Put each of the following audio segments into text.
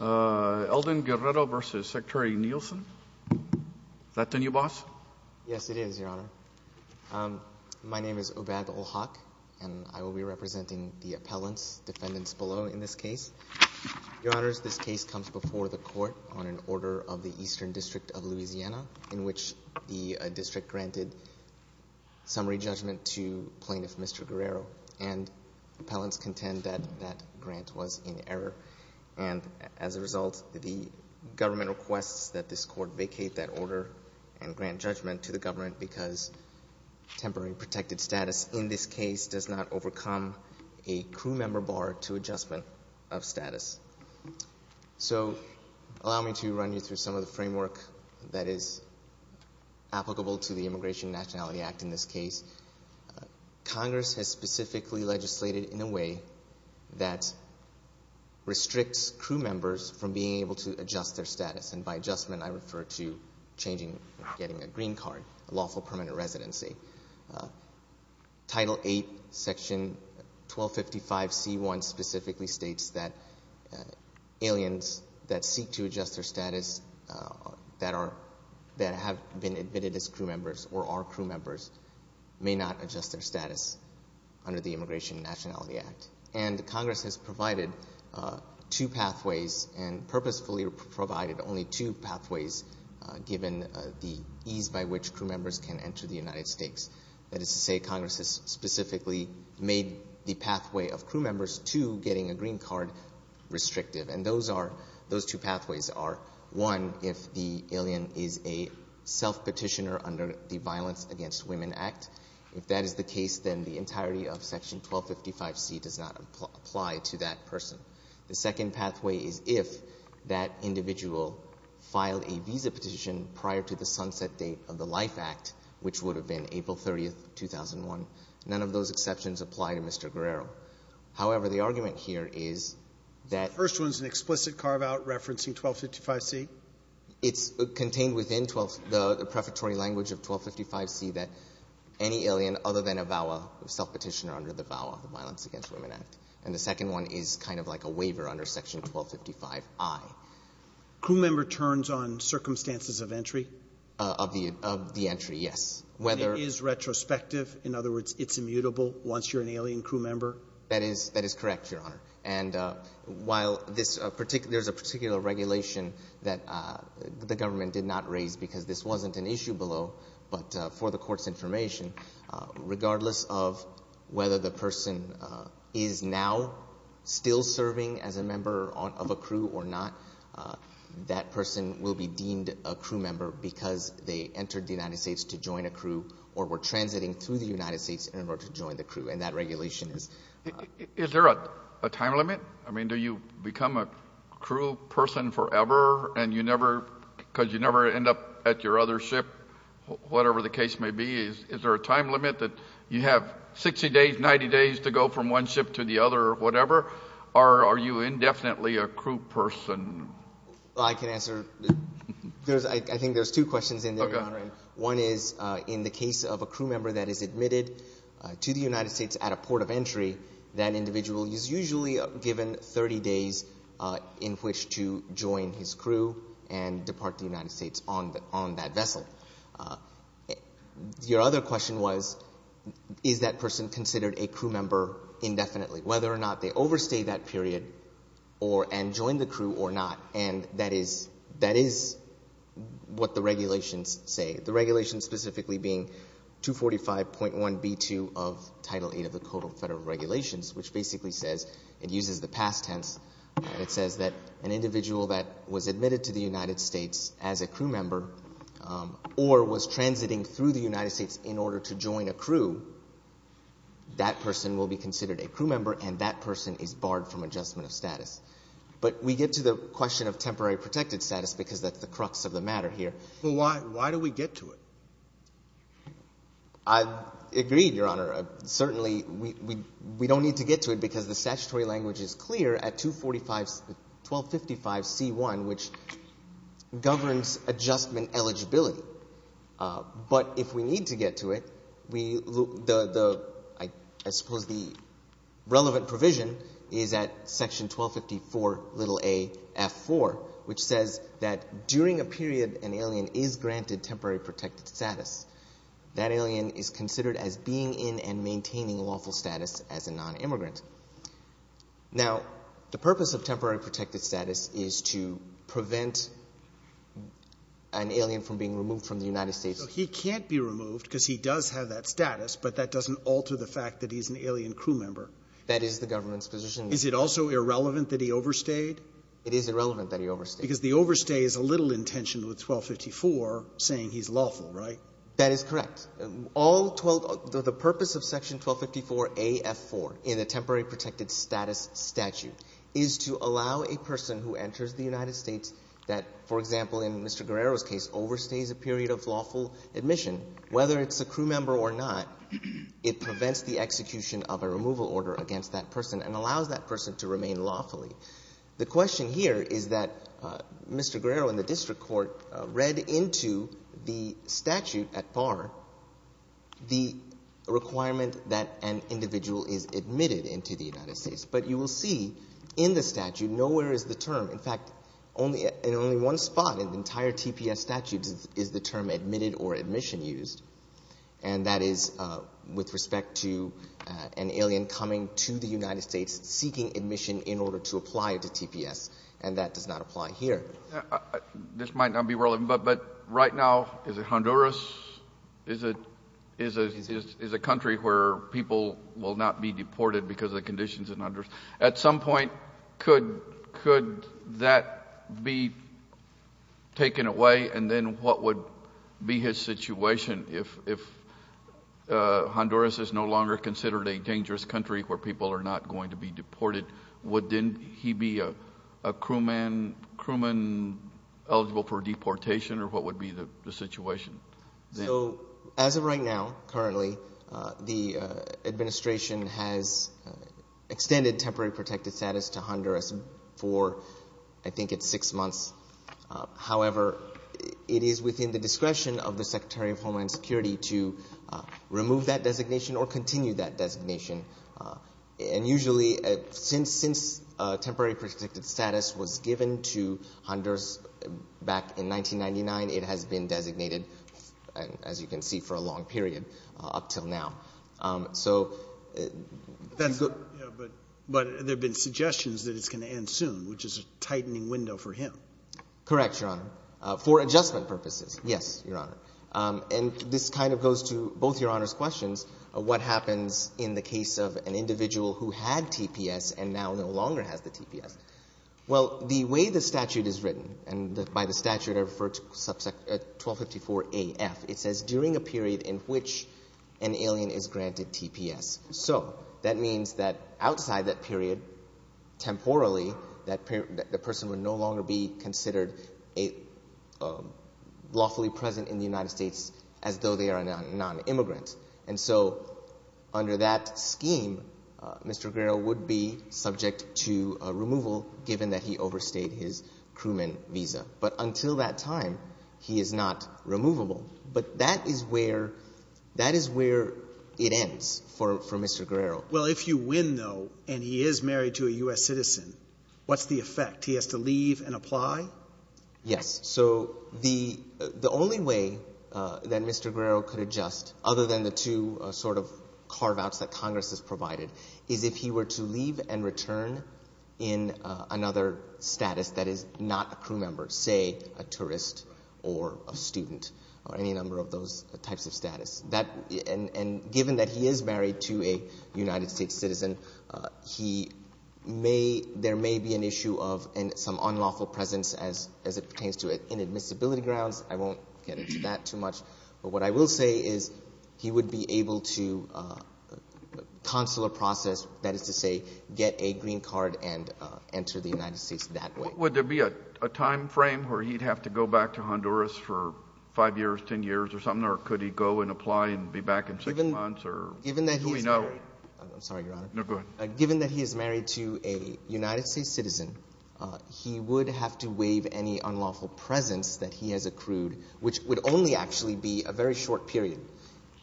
Elden Guerrero v. Secretary Nielsen Is that the new boss? Yes, it is, Your Honor. My name is Obad Olhak, and I will be representing the appellants, defendants below in this case. Your Honors, this case comes before the court on an order of the Eastern District of Louisiana in which the district granted summary judgment to plaintiff Mr. Guerrero, and appellants contend that that grant was in error. And as a result, the government requests that this court vacate that order and grant judgment to the government because temporary protected status in this case does not overcome a crew member bar to adjustment of status. So allow me to run you through some of the framework that is applicable to the Immigration and Nationality Act in this case. Congress has specifically legislated in a way that restricts crew members from being able to adjust their status, and by adjustment I refer to changing, getting a green card, a lawful permanent residency. Title VIII, Section 1255C1 specifically states that aliens that seek to adjust their status that have been admitted as crew members or are crew members may not adjust their status under the Immigration and Nationality Act. And Congress has provided two pathways and purposefully provided only two pathways given the ease by which crew members can enter the United States. That is to say, Congress has specifically made the pathway of crew members to getting a green card restrictive, and those are, those two pathways are, one, if the alien is a self-petitioner under the Violence Against Women Act. If that is the case, then the entirety of Section 1255C does not apply to that person. The second pathway is if that individual filed a visa petition prior to the sunset date of the Life Act, which would have been April 30th, 2001. None of those exceptions apply to Mr. Guerrero. However, the argument here is that the first one is an explicit carve-out referencing 1255C. It's contained within the prefatory language of 1255C that any alien other than a VAWA, self-petitioner under the VAWA, the Violence Against Women Act. And the second one is kind of like a waiver under Section 1255I. Roberts. Crew member turns on circumstances of entry? Of the, of the entry, yes. Whether It is retrospective. In other words, it's immutable once you're an alien crew member? That is, that is correct, Your Honor. And while this particular, there's a particular regulation that the government did not raise because this wasn't an issue below, but for the Court's information, regardless of whether the person is now still serving as a member of a crew or not, that person will be deemed a crew member because they entered the United States to join a crew or were transiting through the United States in order to join the crew. And that regulation is. Is there a time limit? I mean, do you become a crew person forever and you never, because you never end up at your other ship, whatever the case may be? Is there a time limit that you have 60 days, 90 days to go from one ship to the other or whatever? Or are you indefinitely a crew person? I can answer. I think there's two questions in there, Your Honor. One is in the case of a crew member that is admitted to the United States at a port of entry, that individual is usually given 30 days in which to join his crew and depart the United States on that vessel. Your other question was, is that person considered a crew member indefinitely, whether or not they overstayed that period and joined the crew or not? And that is what the regulations say, the regulations specifically being 245.1b2 of Title VIII of the Code of Federal Regulations, which basically says, it uses the past tense, and it says that an individual that was admitted to the United States as a crew member or was transiting through the United States in order to join a crew, that person will be considered a crew member and that person is barred from adjustment of status. But we get to the question of temporary protected status because that's the crux of the matter here. Well, why do we get to it? I agree, Your Honor. Certainly we don't need to get to it because the statutory language is clear at 1255c1, which governs adjustment eligibility. But if we need to get to it, I suppose the relevant provision is at Section 1254aF4, which says that during a period an alien is granted temporary protected status, that alien is considered as being in and maintaining lawful status as a nonimmigrant. Now, the purpose of temporary protected status is to prevent an alien from being removed from the United States. So he can't be removed because he does have that status, but that doesn't alter the fact that he's an alien crew member. That is the government's position. Is it also irrelevant that he overstayed? It is irrelevant that he overstayed. Because the overstay is a little in tension with 1254, saying he's lawful, right? That is correct. All 12 — the purpose of Section 1254aF4 in the temporary protected status statute is to allow a person who enters the United States that, for example, in Mr. Guerrero's case, overstays a period of lawful admission, whether it's a crew member or not, it prevents the execution of a removal order against that person and allows that person to remain lawfully. The question here is that Mr. Guerrero in the district court read into the statute at bar the requirement that an individual is admitted into the United States. But you will see in the statute nowhere is the term. In fact, in only one spot in the entire TPS statute is the term admitted or admission used. And that is with respect to an alien coming to the United States seeking admission in order to apply to TPS. And that does not apply here. This might not be relevant, but right now, is it Honduras? Is it a country where people will not be deported because of the conditions in Honduras? At some point, could that be taken away? And then what would be his situation if Honduras is no longer considered a dangerous country where people are not going to be deported? Would he be a crewman eligible for deportation? Or what would be the situation? So as of right now, currently, the administration has extended temporary protected status to Honduras for I think it's six months. However, it is within the discretion of the Secretary of Homeland Security to remove that designation or continue that designation. And usually, since temporary protected status was given to Honduras back in 1999, it has been designated, as you can see, for a long period up until now. So you could go to that. But there have been suggestions that it's going to end soon, which is a tightening window for him. Correct, Your Honor. For adjustment purposes, yes, Your Honor. And this kind of goes to both Your Honors' questions of what happens in the case of an individual who had TPS and now no longer has the TPS. Well, the way the statute is written, and by the statute I refer to 1254af, it says during a period in which an alien is granted TPS. So that means that outside that period, temporally, that the person would no longer be considered lawfully present in the United States as though they are a nonimmigrant. And so under that scheme, Mr. Guerrero would be subject to removal, given that he overstayed his crewman visa. But until that time, he is not removable. But that is where it ends for Mr. Guerrero. Well, if you win, though, and he is married to a U.S. citizen, what's the effect? He has to leave and apply? Yes. So the only way that Mr. Guerrero could adjust, other than the two sort of carve-outs that Congress has provided, is if he were to leave and return in another status that is not a crew member, say a tourist or a student or any number of those types of status. And given that he is married to a United States citizen, he may — there may be an issue of some unlawful presence as it pertains to inadmissibility grounds. I won't get into that too much. But what I will say is he would be able to consular process, that is to say, get a green card and enter the United States that way. Would there be a timeframe where he'd have to go back to Honduras for 5 years, 10 years or something, or could he go and apply and be back in 6 months, or do we know? Given that he is married — I'm sorry, Your Honor. No, go ahead. Given that he is married to a United States citizen, he would have to waive any unlawful presence that he has accrued, which would only actually be a very short period,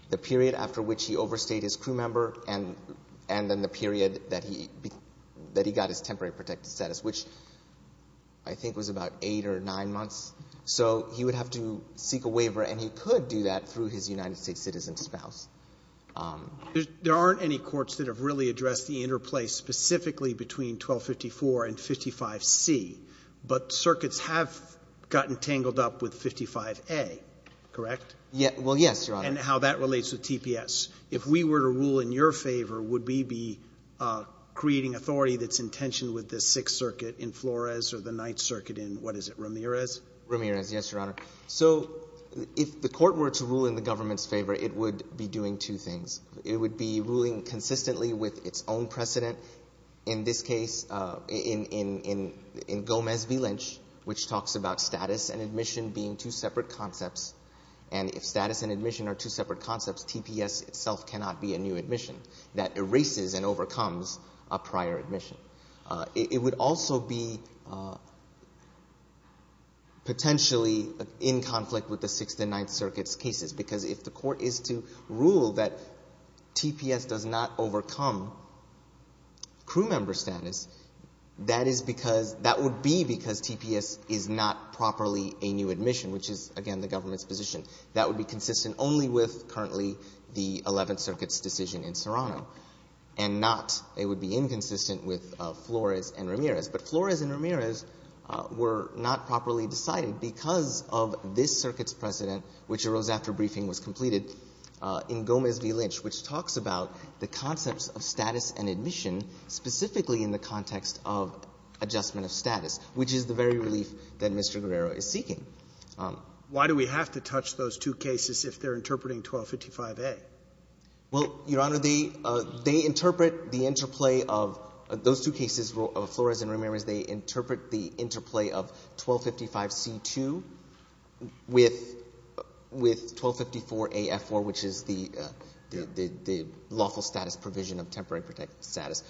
the period after which he overstayed his crew member and then the period that he got his temporary protected status, which I think was about 8 or 9 months. So he would have to seek a waiver, and he could do that through his United States citizen spouse. There aren't any courts that have really addressed the interplay specifically between 1254 and 55C, but circuits have gotten tangled up with 55A, correct? Well, yes, Your Honor. And how that relates with TPS. If we were to rule in your favor, would we be creating authority that's in tension with the Sixth Circuit in Flores or the Ninth Circuit in, what is it, Ramirez? Ramirez, yes, Your Honor. So if the court were to rule in the government's favor, it would be doing two things. It would be ruling consistently with its own precedent. In this case, in Gomez v. Lynch, which talks about status and admission being two separate concepts, and if status and admission are two separate concepts, TPS itself cannot be a new admission. That erases and overcomes a prior admission. It would also be potentially in conflict with the Sixth and Ninth Circuit's cases, because if the court is to rule that TPS does not overcome crew member status, that is because that would be because TPS is not properly a new admission, which is, again, the government's position. That would be consistent only with currently the Eleventh Circuit's decision in Serrano, and not it would be inconsistent with Flores and Ramirez. But Flores and Ramirez were not properly decided because of this circuit's precedent, which arose after briefing was completed in Gomez v. Lynch, which talks about the concepts of status and admission specifically in the context of adjustment of status, which is the very relief that Mr. Guerrero is seeking. Why do we have to touch those two cases if they're interpreting 1255a? Well, Your Honor, they interpret the interplay of those two cases, Flores and Ramirez, they interpret the interplay of 1255c2 with 1254aF4, which is the lawful status provision of temporary protected status.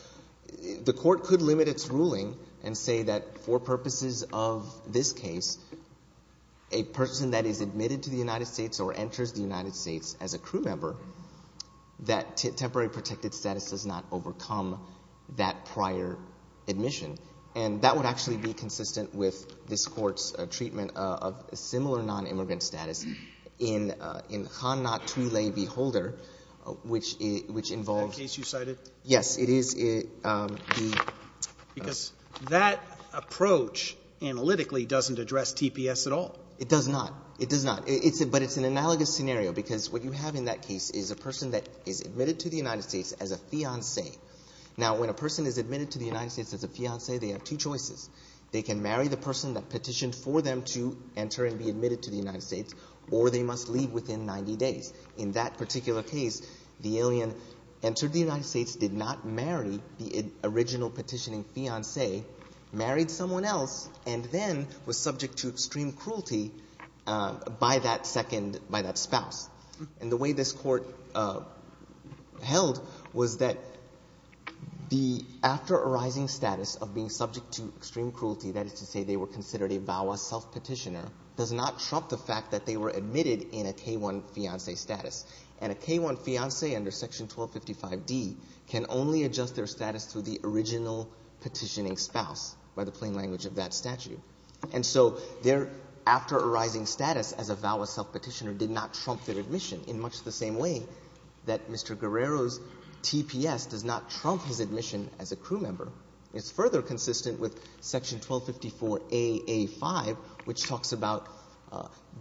The court could limit its ruling and say that for purposes of this case, a person that is admitted to the United States or enters the United States as a crew member, that temporary protected status does not overcome that prior admission. And that would actually be consistent with this court's treatment of similar non-immigrant status in Khan Natwile v. Holder, which involves That case you cited? Yes, it is. Because that approach analytically doesn't address TPS at all. It does not. It does not. But it's an analogous scenario, because what you have in that case is a person that is admitted to the United States as a fiancé. Now, when a person is admitted to the United States as a fiancé, they have two choices. They can marry the person that petitioned for them to enter and be admitted to the United States, or they must leave within 90 days. In that particular case, the alien entered the United States, did not marry the original petitioning fiancé, married someone else, and then was subject to extreme cruelty by that second — by that spouse. And the way this court held was that the after arising status of being subject to extreme cruelty, that is to say they were considered a VAWA self-petitioner, does not trump the fact that they were admitted in a K-1 fiancé status. And a K-1 fiancé under Section 1255d can only adjust their status to the original petitioning spouse, by the plain language of that statute. And so their after arising status as a VAWA self-petitioner did not trump their admission, in much the same way that Mr. Guerrero's TPS does not trump his admission as a crew member. It's further consistent with Section 1254a.a.5, which talks about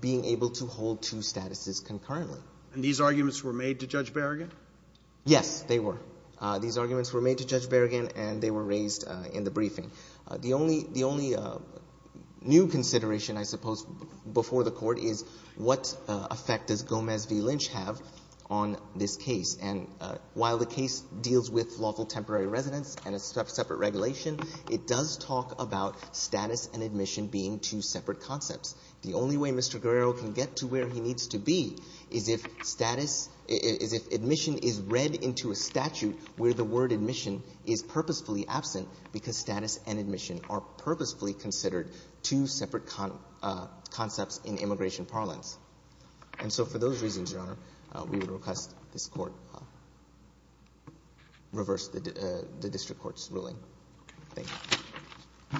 being able to hold two statuses concurrently. And these arguments were made to Judge Berrigan? Yes, they were. These arguments were made to Judge Berrigan, and they were raised in the briefing. The only — the only new consideration, I suppose, before the Court is what effect does Gomez v. Lynch have on this case. And while the case deals with lawful temporary residence and a separate regulation, it does talk about status and admission being two separate concepts. The only way Mr. Guerrero can get to where he needs to be is if status — is if admission is read into a statute where the word admission is purposefully absent, because status and admission are purposefully considered two separate concepts in immigration parlance. And so for those reasons, Your Honor, we would request this Court reverse the district court's ruling. Okay. Thank you.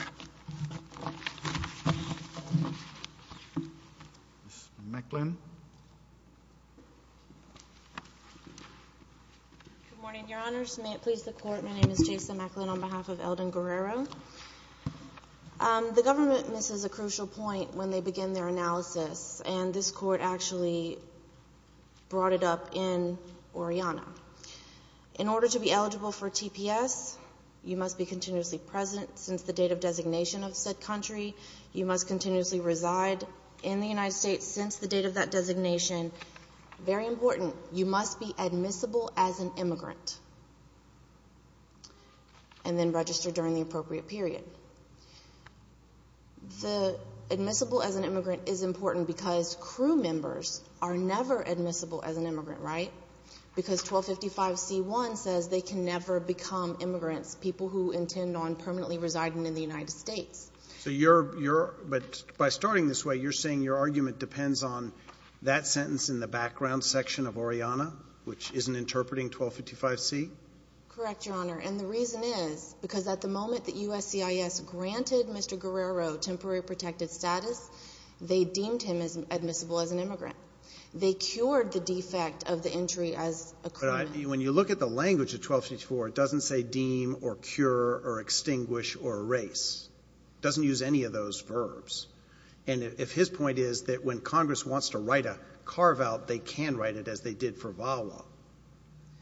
Ms. Macklin? Good morning, Your Honors. May it please the Court, my name is Jason Macklin on behalf of Eldon Guerrero. The government misses a crucial point when they begin their analysis, and this Court actually brought it up in Oriana. In order to be eligible for TPS, you must be continuously present since the date of designation of said country. You must continuously reside in the United States since the date of that designation. Very important, you must be admissible as an immigrant and then register during the appropriate period. The admissible as an immigrant is important because crew members are never admissible as an immigrant, right? Because 1255c1 says they can never become immigrants, people who intend on permanently residing in the United States. So you're — but by starting this way, you're saying your argument depends on that sentence in the background section of Oriana, which isn't interpreting 1255c? Correct, Your Honor. And the reason is because at the moment that USCIS granted Mr. Guerrero temporary protected status, they deemed him admissible as an immigrant. They cured the defect of the entry as a crewman. But when you look at the language of 1254, it doesn't say deem or cure or extinguish or erase. It doesn't use any of those verbs. And if his point is that when Congress wants to write a carve-out, they can write it as they did for VAWA.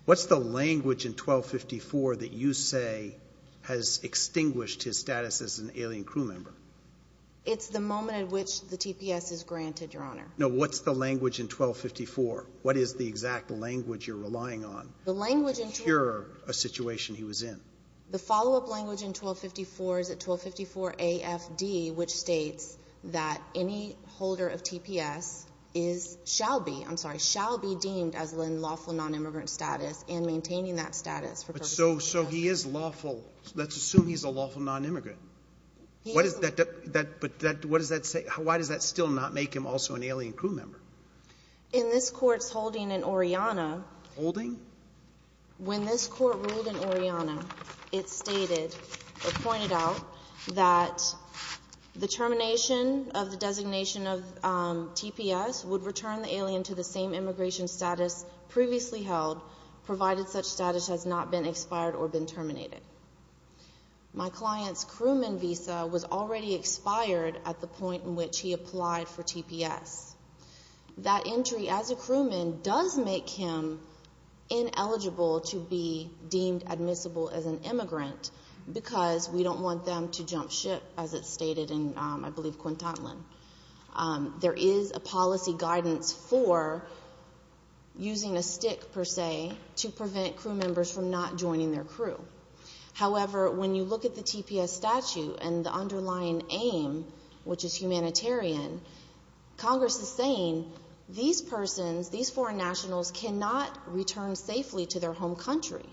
What's the language in 1254 that you say has extinguished his status as an alien crew member? It's the moment at which the TPS is granted, Your Honor. No. What's the language in 1254? What is the exact language you're relying on to cure a situation he was in? The follow-up language in 1254 is at 1254afd, which states that any holder of TPS shall be deemed as in lawful nonimmigrant status and maintaining that status for purposes of the statute. So he is lawful. Let's assume he's a lawful nonimmigrant. He is. But what does that say? Why does that still not make him also an alien crew member? In this Court's holding in Oriana. Holding? When this Court ruled in Oriana, it stated or pointed out that the termination of the designation of TPS would return the alien to the same immigration status previously held, provided such status has not been expired or been terminated. My client's crewman visa was already expired at the point in which he applied for TPS. That entry as a crewman does make him ineligible to be deemed admissible as an immigrant because we don't want them to jump ship, as it's stated in, I believe, Quintotlan. There is a policy guidance for using a stick, per se, to prevent crew members from not joining their crew. However, when you look at the TPS statute and the underlying aim, which is humanitarian, Congress is saying these persons, these foreign nationals, cannot return safely to their home country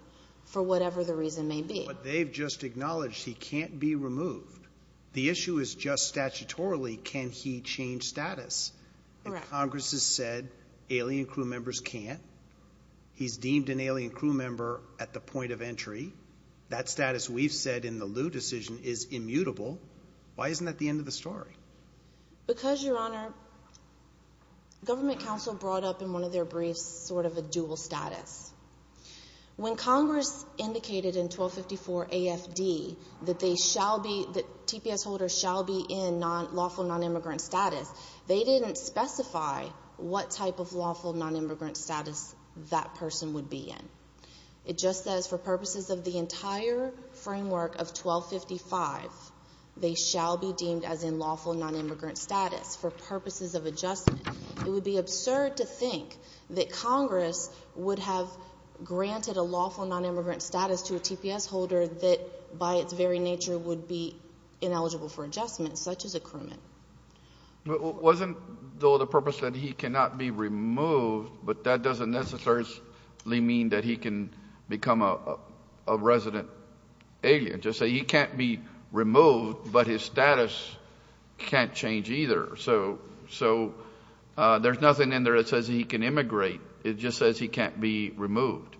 for whatever the reason may be. But they've just acknowledged he can't be removed. The issue is just statutorily, can he change status? And Congress has said alien crew members can't. He's deemed an alien crew member at the point of entry. That status we've said in the Lew decision is immutable. Why isn't that the end of the story? Because, Your Honor, Government Counsel brought up in one of their briefs sort of a dual status. When Congress indicated in 1254 A.F.D. that TPS holders shall be in lawful nonimmigrant status, they didn't specify what type of lawful nonimmigrant status that person would be in. It just says for purposes of the entire framework of 1255, they shall be deemed as in lawful nonimmigrant status for purposes of adjustment. It would be absurd to think that Congress would have granted a lawful nonimmigrant status to a TPS holder that by its very nature would be ineligible for adjustment, such as a crewman. But wasn't, though, the purpose that he cannot be removed, but that doesn't necessarily mean that he can become a resident alien. Just say he can't be removed, but his status can't change either. So there's nothing in there that says he can immigrate. It just says he can't be removed.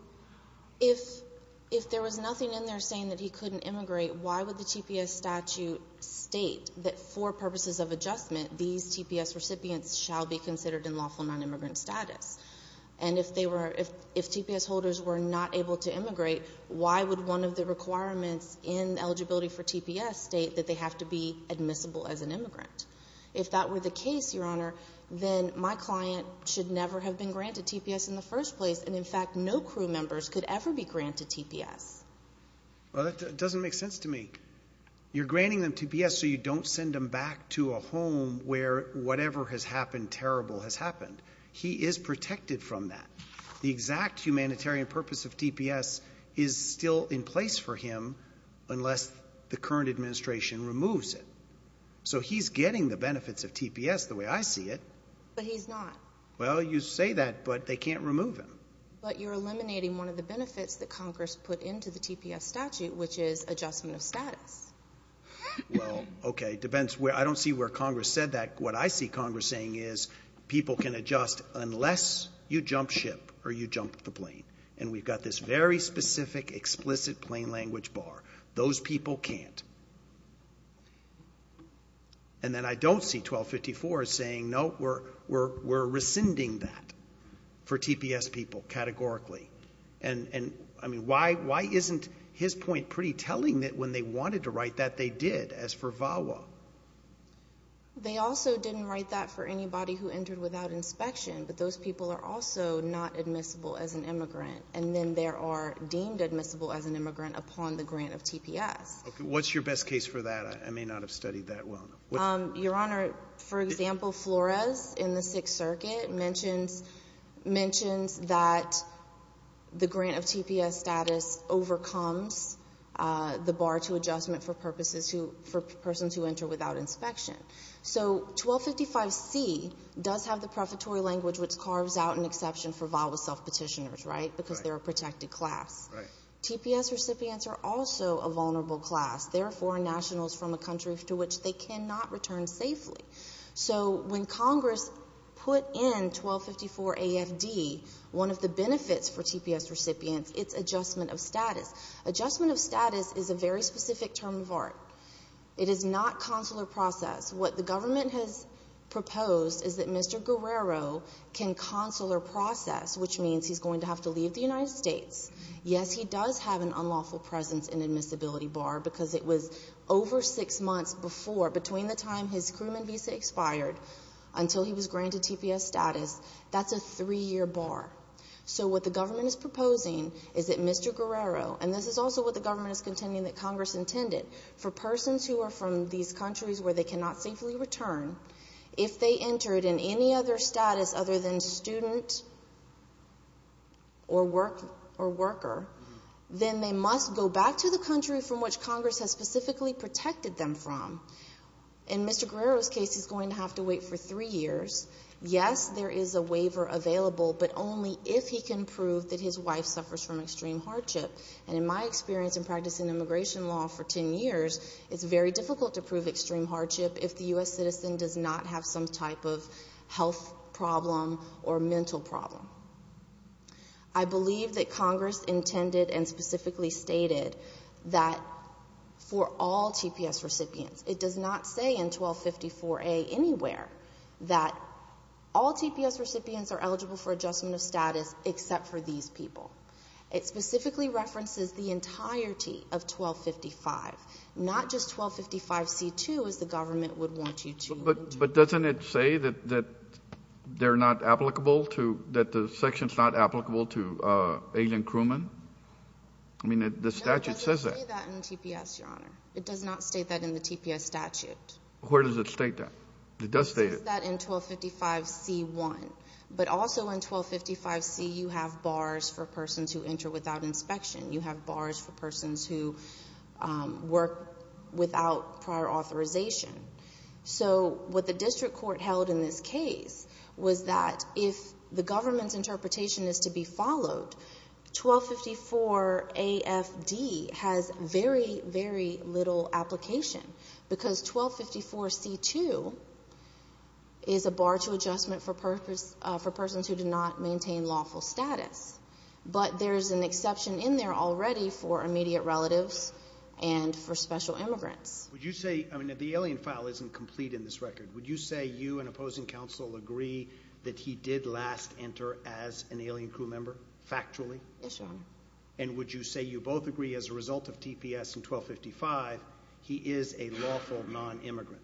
If there was nothing in there saying that he couldn't immigrate, why would the TPS statute state that for purposes of adjustment, these TPS recipients shall be considered in lawful nonimmigrant status? And if they were — if TPS holders were not able to immigrate, why would one of the requirements in eligibility for TPS state that they have to be admissible as an immigrant? If that were the case, Your Honor, then my client should never have been granted TPS in the first place. And, in fact, no crew members could ever be granted TPS. Well, that doesn't make sense to me. You're granting them TPS so you don't send them back to a home where whatever has happened terrible has happened. He is protected from that. The exact humanitarian purpose of TPS is still in place for him unless the current administration removes it. So he's getting the benefits of TPS the way I see it. But he's not. Well, you say that, but they can't remove him. But you're eliminating one of the benefits that Congress put into the TPS statute, which is adjustment of status. Well, okay. It depends. I don't see where Congress said that. What I see Congress saying is people can adjust unless you jump ship or you jump the plane. And we've got this very specific, explicit plain language bar. Those people can't. And then I don't see 1254 saying, no, we're rescinding that for TPS people categorically. And, I mean, why isn't his point pretty telling that when they wanted to write that they did as for VAWA? They also didn't write that for anybody who entered without inspection. But those people are also not admissible as an immigrant. And then they are deemed admissible as an immigrant upon the grant of TPS. Okay. What's your best case for that? I may not have studied that well enough. Your Honor, for example, Flores in the Sixth Circuit mentions that the grant of TPS status overcomes the bar to adjustment for purposes for persons who enter without inspection. So 1255C does have the prefatory language, which carves out an exception for VAWA self-petitioners, right, because they're a protected class. Right. TPS recipients are also a vulnerable class. They're foreign nationals from a country to which they cannot return safely. So when Congress put in 1254 AFD, one of the benefits for TPS recipients, it's adjustment of status. Adjustment of status is a very specific term of art. It is not consular process. What the government has proposed is that Mr. Guerrero can consular process, which means he's going to have to leave the United States. Yes, he does have an unlawful presence in admissibility bar because it was over six months before, between the time his crewman visa expired until he was granted TPS status. That's a three-year bar. So what the government is proposing is that Mr. Guerrero, and this is also what the government is contending that Congress intended, for persons who are from these countries where they cannot safely return, if they entered in any other status other than student or worker, then they must go back to the country from which Congress has specifically protected them from. In Mr. Guerrero's case, he's going to have to wait for three years. Yes, there is a waiver available, but only if he can prove that his wife suffers from extreme hardship. And in my experience in practicing immigration law for 10 years, it's very difficult to prove extreme hardship if the U.S. citizen does not have some type of health problem or mental problem. I believe that Congress intended and specifically stated that for all TPS recipients, it does not say in 1254A anywhere that all TPS recipients are eligible for adjustment of status except for these people. It specifically references the entirety of 1255, not just 1255C2, as the government would want you to. But doesn't it say that they're not applicable to, that the section's not applicable to alien crewmen? I mean, the statute says that. No, it doesn't say that in TPS, Your Honor. It does not state that in the TPS statute. Where does it state that? It does state it. It says that in 1255C1. But also in 1255C, you have bars for persons who enter without inspection. You have bars for persons who work without prior authorization. So what the district court held in this case was that if the government's interpretation is to be followed, 1254AFD has very, very little application because 1254C2, is a bar to adjustment for persons who do not maintain lawful status. But there's an exception in there already for immediate relatives and for special immigrants. Would you say, I mean, the alien file isn't complete in this record. Would you say you and opposing counsel agree that he did last enter as an alien crew member, factually? Yes, Your Honor. And would you say you both agree as a result of TPS in 1255, he is a lawful non-immigrant?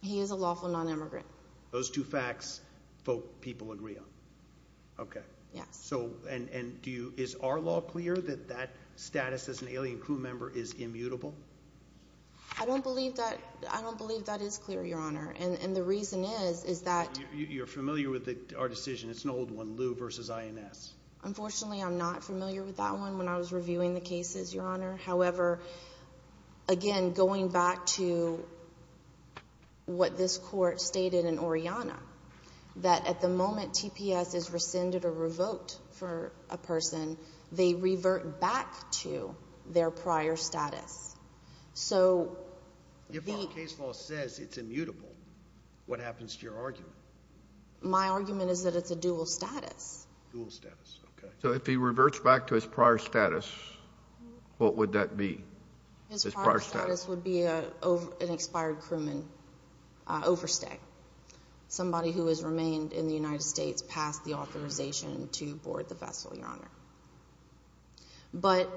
He is a lawful non-immigrant. Those two facts, both people agree on? Okay. Yes. And is our law clear that that status as an alien crew member is immutable? I don't believe that is clear, Your Honor. And the reason is, is that— You're familiar with our decision. It's an old one, Lew v. INS. Unfortunately, I'm not familiar with that one when I was reviewing the cases, Your Honor. However, again, going back to what this Court stated in Oriana, that at the moment TPS is rescinded or revoked for a person, they revert back to their prior status. So the— If our case law says it's immutable, what happens to your argument? My argument is that it's a dual status. Dual status, okay. So if he reverts back to his prior status, what would that be? His prior status would be an expired crewman overstay, somebody who has remained in the United States past the authorization to board the vessel, Your Honor. But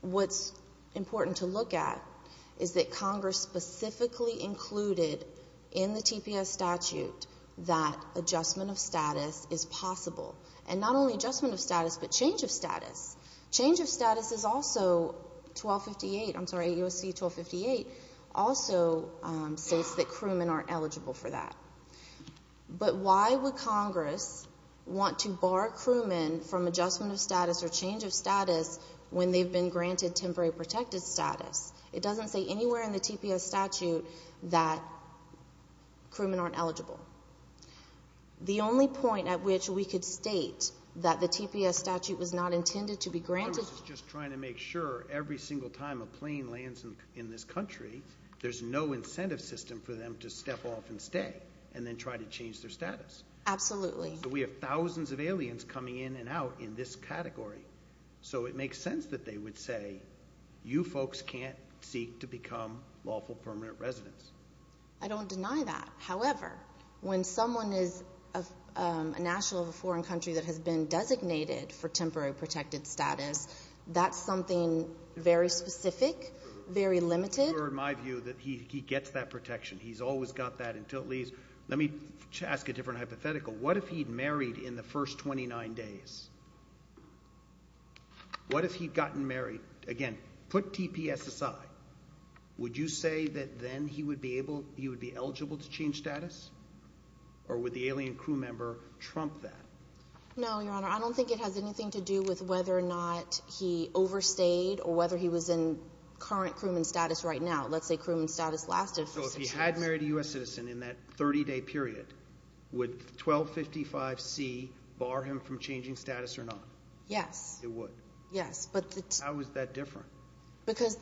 what's important to look at is that Congress specifically included in the TPS statute that adjustment of status is possible. And not only adjustment of status, but change of status. Change of status is also 1258—I'm sorry, U.S.C. 1258 also states that crewmen aren't eligible for that. But why would Congress want to bar crewmen from adjustment of status or change of status when they've been granted temporary protected status? It doesn't say anywhere in the TPS statute that crewmen aren't eligible. The only point at which we could state that the TPS statute was not intended to be granted— Congress is just trying to make sure every single time a plane lands in this country, there's no incentive system for them to step off and stay and then try to change their status. Absolutely. So we have thousands of aliens coming in and out in this category. So it makes sense that they would say, you folks can't seek to become lawful permanent residents. I don't deny that. However, when someone is a national of a foreign country that has been designated for temporary protected status, that's something very specific, very limited. You're in my view that he gets that protection. He's always got that until it leaves. Let me ask a different hypothetical. What if he'd married in the first 29 days? What if he'd gotten married? Again, put TPS aside. Would you say that then he would be eligible to change status? Or would the alien crew member trump that? No, Your Honor. I don't think it has anything to do with whether or not he overstayed or whether he was in current crewman status right now. Let's say crewman status lasted for six years. So if he had married a U.S. citizen in that 30-day period, would 1255C bar him from changing status or not? Yes. It would? Yes. How is that different? Because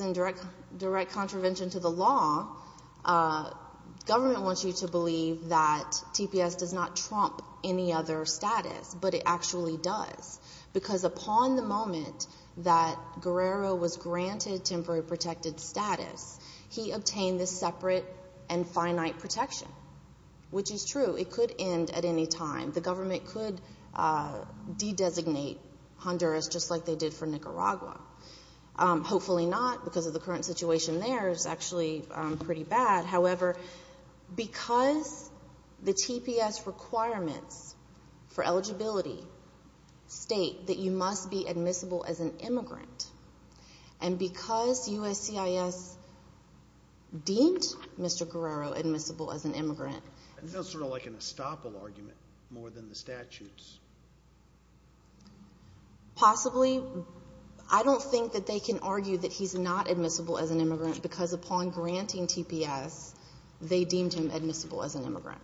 in direct contravention to the law, government wants you to believe that TPS does not trump any other status, but it actually does. Because upon the moment that Guerrero was granted temporary protected status, he obtained this separate and finite protection, which is true. It could end at any time. The government could de-designate Honduras just like they did for Nicaragua. Hopefully not because of the current situation there is actually pretty bad. However, because the TPS requirements for eligibility state that you must be admissible as an immigrant, and because USCIS deemed Mr. Guerrero admissible as an immigrant. Isn't that sort of like an estoppel argument more than the statutes? Possibly. I don't think that they can argue that he's not admissible as an immigrant because upon granting TPS, they deemed him admissible as an immigrant.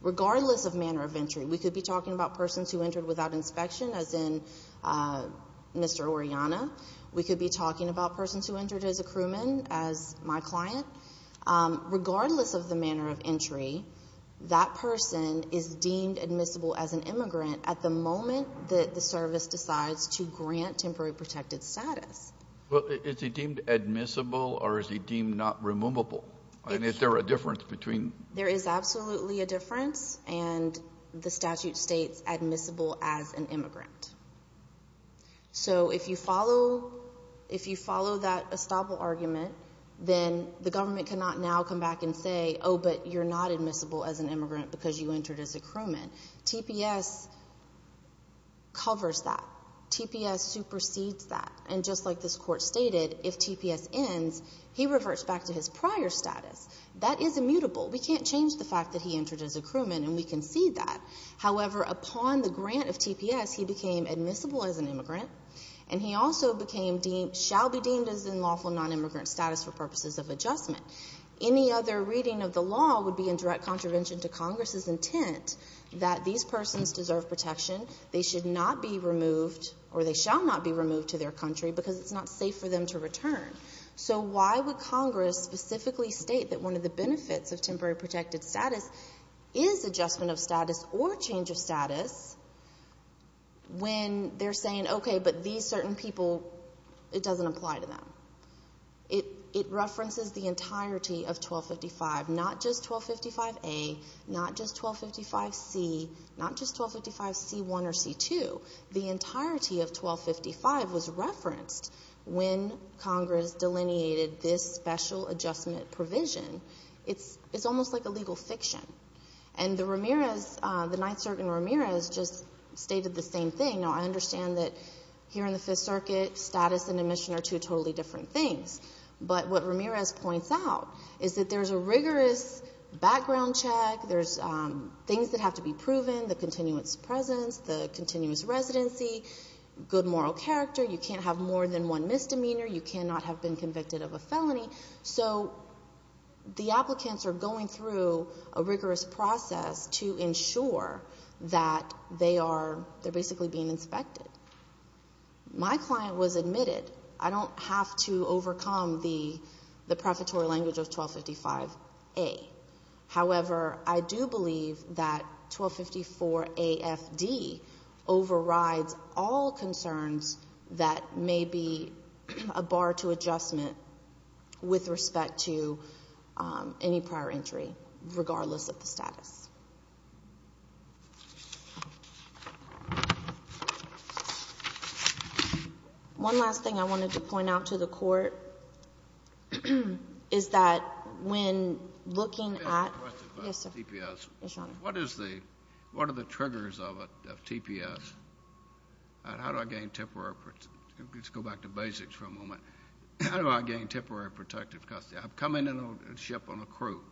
Regardless of manner of entry, we could be talking about persons who entered without inspection, as in Mr. Oriana. We could be talking about persons who entered as a crewman, as my client. Regardless of the manner of entry, that person is deemed admissible as an immigrant at the moment that the service decides to grant temporary protected status. Is he deemed admissible or is he deemed not removable? Is there a difference between? There is absolutely a difference, and the statute states admissible as an immigrant. So if you follow that estoppel argument, then the government cannot now come back and say, oh, but you're not admissible as an immigrant because you entered as a crewman. TPS covers that. TPS supersedes that. And just like this court stated, if TPS ends, he reverts back to his prior status. That is immutable. We can't change the fact that he entered as a crewman, and we can see that. However, upon the grant of TPS, he became admissible as an immigrant, and he also became deemed, shall be deemed as in lawful nonimmigrant status for purposes of adjustment. Any other reading of the law would be in direct contravention to Congress's intent that these persons deserve protection. They should not be removed, or they shall not be removed to their country because it's not safe for them to return. So why would Congress specifically state that one of the benefits of temporary protected status is adjustment of status or change of status when they're saying, okay, but these certain people, it doesn't apply to them? It references the entirety of 1255, not just 1255A, not just 1255C, not just 1255C1 or C2. The entirety of 1255 was referenced when Congress delineated this special adjustment provision. It's almost like a legal fiction. And the Ramirez, the Ninth Circuit in Ramirez, just stated the same thing. Now, I understand that here in the Fifth Circuit, status and admission are two totally different things. But what Ramirez points out is that there's a rigorous background check. There's things that have to be proven, the continuance of presence, the continuance of residency, good moral character. You can't have more than one misdemeanor. You cannot have been convicted of a felony. So the applicants are going through a rigorous process to ensure that they are basically being inspected. My client was admitted. I don't have to overcome the prefatory language of 1255A. However, I do believe that 1254AFD overrides all concerns that may be a bar to adjustment with respect to any prior entry, regardless of the status. One last thing I wanted to point out to the Court is that when looking at the TPS, what is the — what are the triggers of a TPS? And how do I gain temporary — let's go back to basics for a moment. How do I gain temporary protective custody? I'm coming in on a ship on a crew,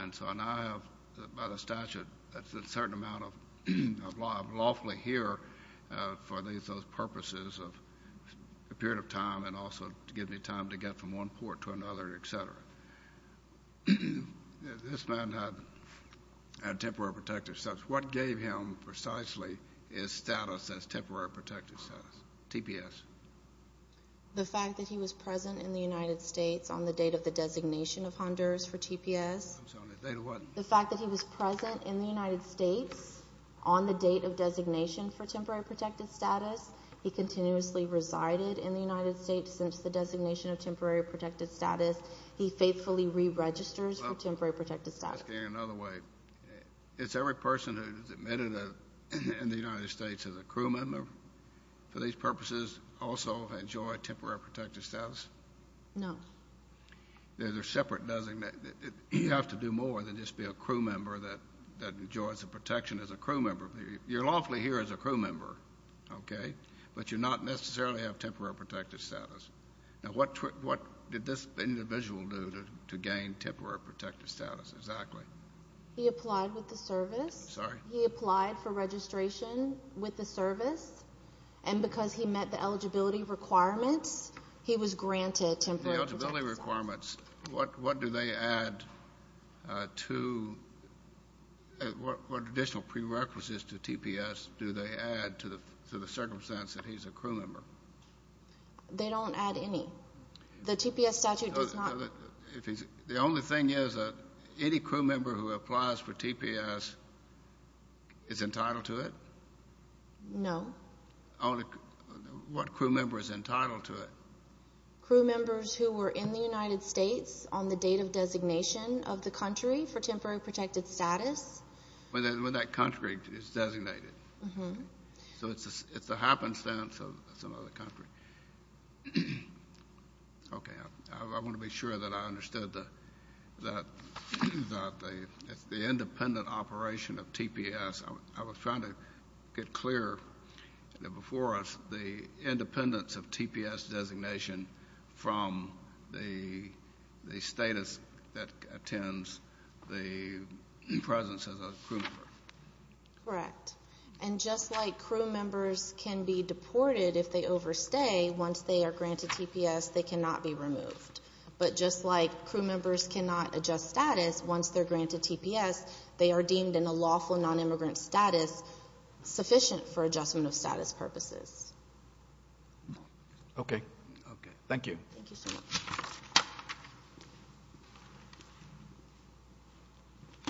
and so now I have, by the statute, a certain amount of lawfully here for those purposes of a period of time and also to give me time to get from one port to another, et cetera. This man had temporary protective — what gave him precisely his status as temporary protective status, TPS? The fact that he was present in the United States on the date of the designation of Honduras for TPS. I'm sorry, the date of what? The fact that he was present in the United States on the date of designation for temporary protective status. He continuously resided in the United States since the designation of temporary protective status. He faithfully re-registers for temporary protective status. I'm asking in another way. Is every person who is admitted in the United States as a crew member for these purposes also enjoy temporary protective status? No. There's a separate designation. You have to do more than just be a crew member that enjoys the protection as a crew member. You're lawfully here as a crew member, okay, but you're not necessarily have temporary protective status. Now, what did this individual do to gain temporary protective status exactly? He applied with the service. Sorry? He applied for registration with the service, and because he met the eligibility requirements, he was granted temporary protective status. The eligibility requirements, what do they add to — what additional prerequisites to TPS do they add to the circumstance that he's a crew member? They don't add any. The TPS statute does not — The only thing is that any crew member who applies for TPS is entitled to it? No. What crew member is entitled to it? Crew members who were in the United States on the date of designation of the country for temporary protective status. When that country is designated. So it's the happenstance of some other country. Okay. I want to be sure that I understood that it's the independent operation of TPS. I was trying to get clear before us the independence of TPS designation from the status that attends the presence as a crew member. Correct. And just like crew members can be deported if they overstay, once they are granted TPS, they cannot be removed. But just like crew members cannot adjust status once they're granted TPS, they are deemed in a lawful nonimmigrant status sufficient for adjustment of status purposes. Okay. Thank you. Thank you so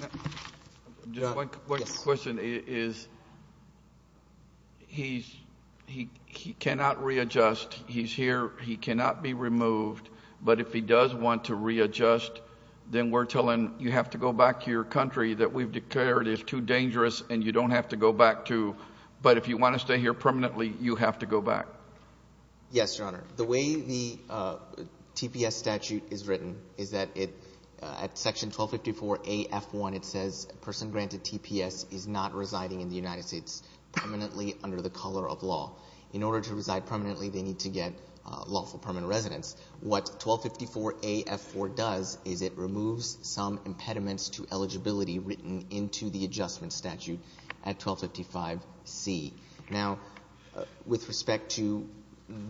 much. Just one quick question is he cannot readjust. He's here. He cannot be removed. But if he does want to readjust, then we're telling you have to go back to your country that we've declared is too dangerous and you don't have to go back to. But if you want to stay here permanently, you have to go back. Yes, Your Honor. The way the TPS statute is written is that at section 1254A.F.1 it says a person granted TPS is not residing in the United States permanently under the color of law. In order to reside permanently, they need to get lawful permanent residence. What 1254A.F.4 does is it removes some impediments to eligibility written into the adjustment statute at 1255C. Now, with respect to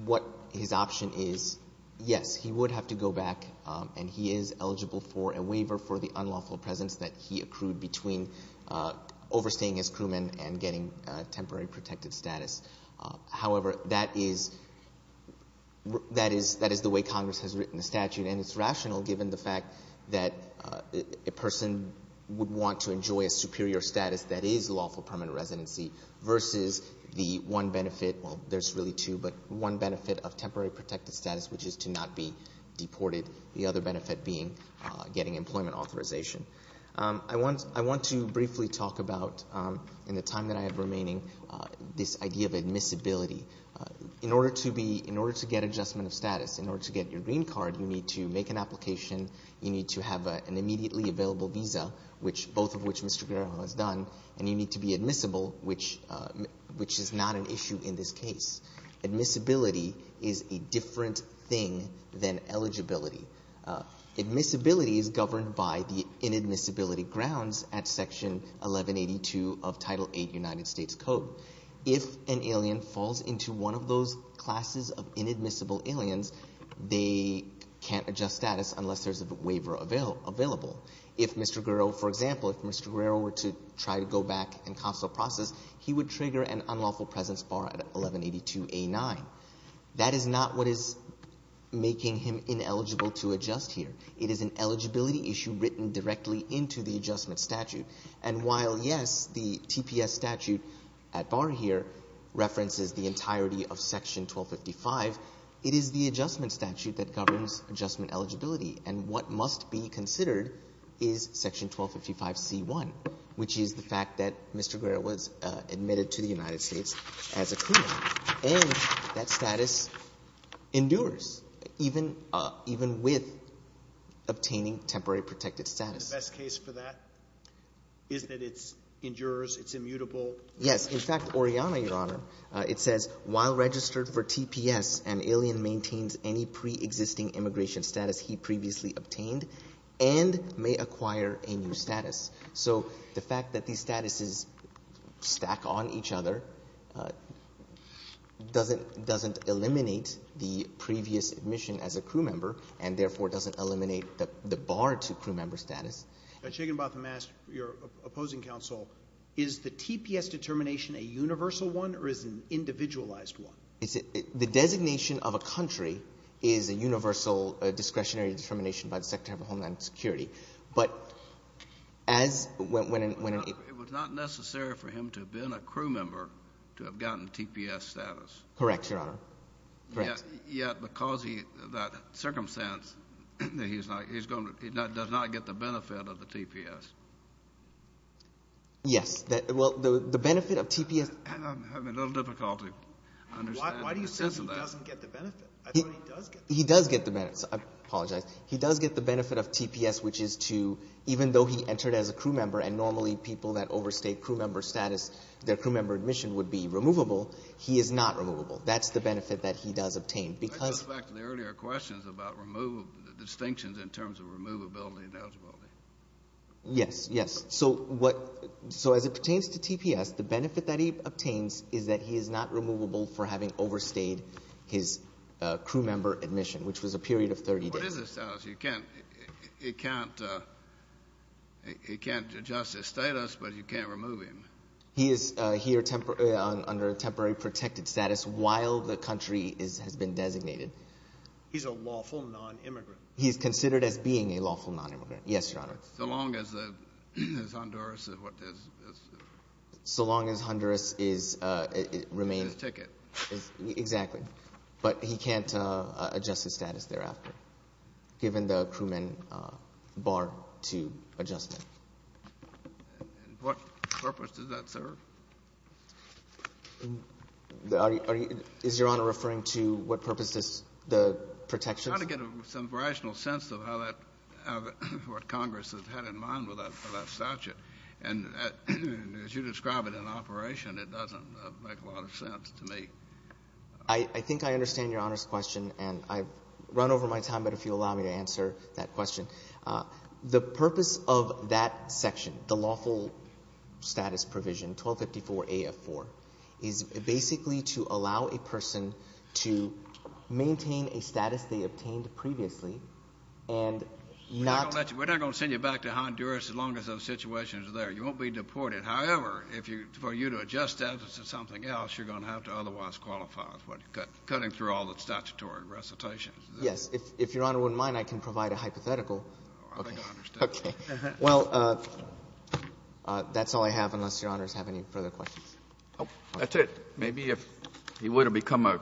what his option is, yes, he would have to go back, and he is eligible for a waiver for the unlawful presence that he accrued between overstaying his crewman and getting temporary protective status. However, that is the way Congress has written the statute, and it's rational given the fact that a person would want to enjoy a superior status that is lawful permanent residency versus the one benefit, well, there's really two, but one benefit of temporary protective status, which is to not be deported, the other benefit being getting employment authorization. I want to briefly talk about, in the time that I have remaining, this idea of admissibility. In order to get adjustment of status, in order to get your green card, you need to make an application. You need to have an immediately available visa, both of which Mr. Guerrero has done, and you need to be admissible, which is not an issue in this case. Admissibility is a different thing than eligibility. Admissibility is governed by the inadmissibility grounds at Section 1182 of Title VIII United States Code. If an alien falls into one of those classes of inadmissible aliens, they can't adjust status unless there's a waiver available. If Mr. Guerrero, for example, if Mr. Guerrero were to try to go back and counsel a process, he would trigger an unlawful presence bar at 1182A9. That is not what is making him ineligible to adjust here. It is an eligibility issue written directly into the adjustment statute. And while, yes, the TPS statute at bar here references the entirety of Section 1255, it is the adjustment statute that governs adjustment eligibility. And what must be considered is Section 1255C1, which is the fact that Mr. Guerrero was admitted to the United States as a criminal. And that status endures, even with obtaining temporary protected status. The best case for that is that it endures, it's immutable. Yes. In fact, Orianna, Your Honor, it says while registered for TPS, an alien maintains any preexisting immigration status he previously obtained and may acquire a new status. So the fact that these statuses stack on each other doesn't eliminate the previous admission as a crew member and, therefore, doesn't eliminate the bar to crew member status. Chigginbotham asked your opposing counsel, is the TPS determination a universal one or is it an individualized one? The designation of a country is a universal discretionary determination by the Secretary of Homeland Security. It was not necessary for him to have been a crew member to have gotten TPS status. Correct, Your Honor. Correct. Yet because of that circumstance, he does not get the benefit of the TPS. Yes. Well, the benefit of TPS — I'm having a little difficulty understanding the sense of that. Why do you say he doesn't get the benefit? I thought he does get the benefit. He does get the benefit. I apologize. He does get the benefit of TPS, which is to — even though he entered as a crew member and normally people that overstay crew member status, their crew member admission would be removable, he is not removable. That's the benefit that he does obtain because — That goes back to the earlier questions about distinctions in terms of removability and eligibility. Yes, yes. So as it pertains to TPS, the benefit that he obtains is that he is not removable for having overstayed his crew member admission, which was a period of 30 days. What is his status? He can't adjust his status, but you can't remove him. He is here under a temporary protected status while the country has been designated. He's a lawful nonimmigrant. He is considered as being a lawful nonimmigrant. Yes, Your Honor. So long as Honduras is — So long as Honduras remains — His ticket. Exactly. But he can't adjust his status thereafter, given the crewman bar to adjustment. And what purpose does that serve? Is Your Honor referring to what purpose does the protection serve? I'm trying to get some rational sense of how that — what Congress has had in mind with that statute. And as you describe it in operation, it doesn't make a lot of sense to me. I think I understand Your Honor's question, and I've run over my time, but if you'll allow me to answer that question. The purpose of that section, the lawful status provision, 1254a of 4, is basically to allow a person to maintain a status they obtained previously and not — Your honor, you're going to have to qualify for that and your recitation's there. You won't be deported. However, if you, for you to adjust that to something else, you're going to have to otherwise qualify for cutting through all the statutory recitations. Yes. If Your Honor wouldn't mind, I can provide a hypothetical. Okay. I think I understand. Well, that's all I have, unless Your Honor has any further questions. That's it. Maybe if he would have become a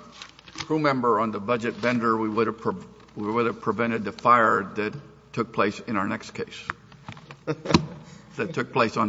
crew member on the budget vendor, we would have prevented the fire that took place in our next case. That took place on the.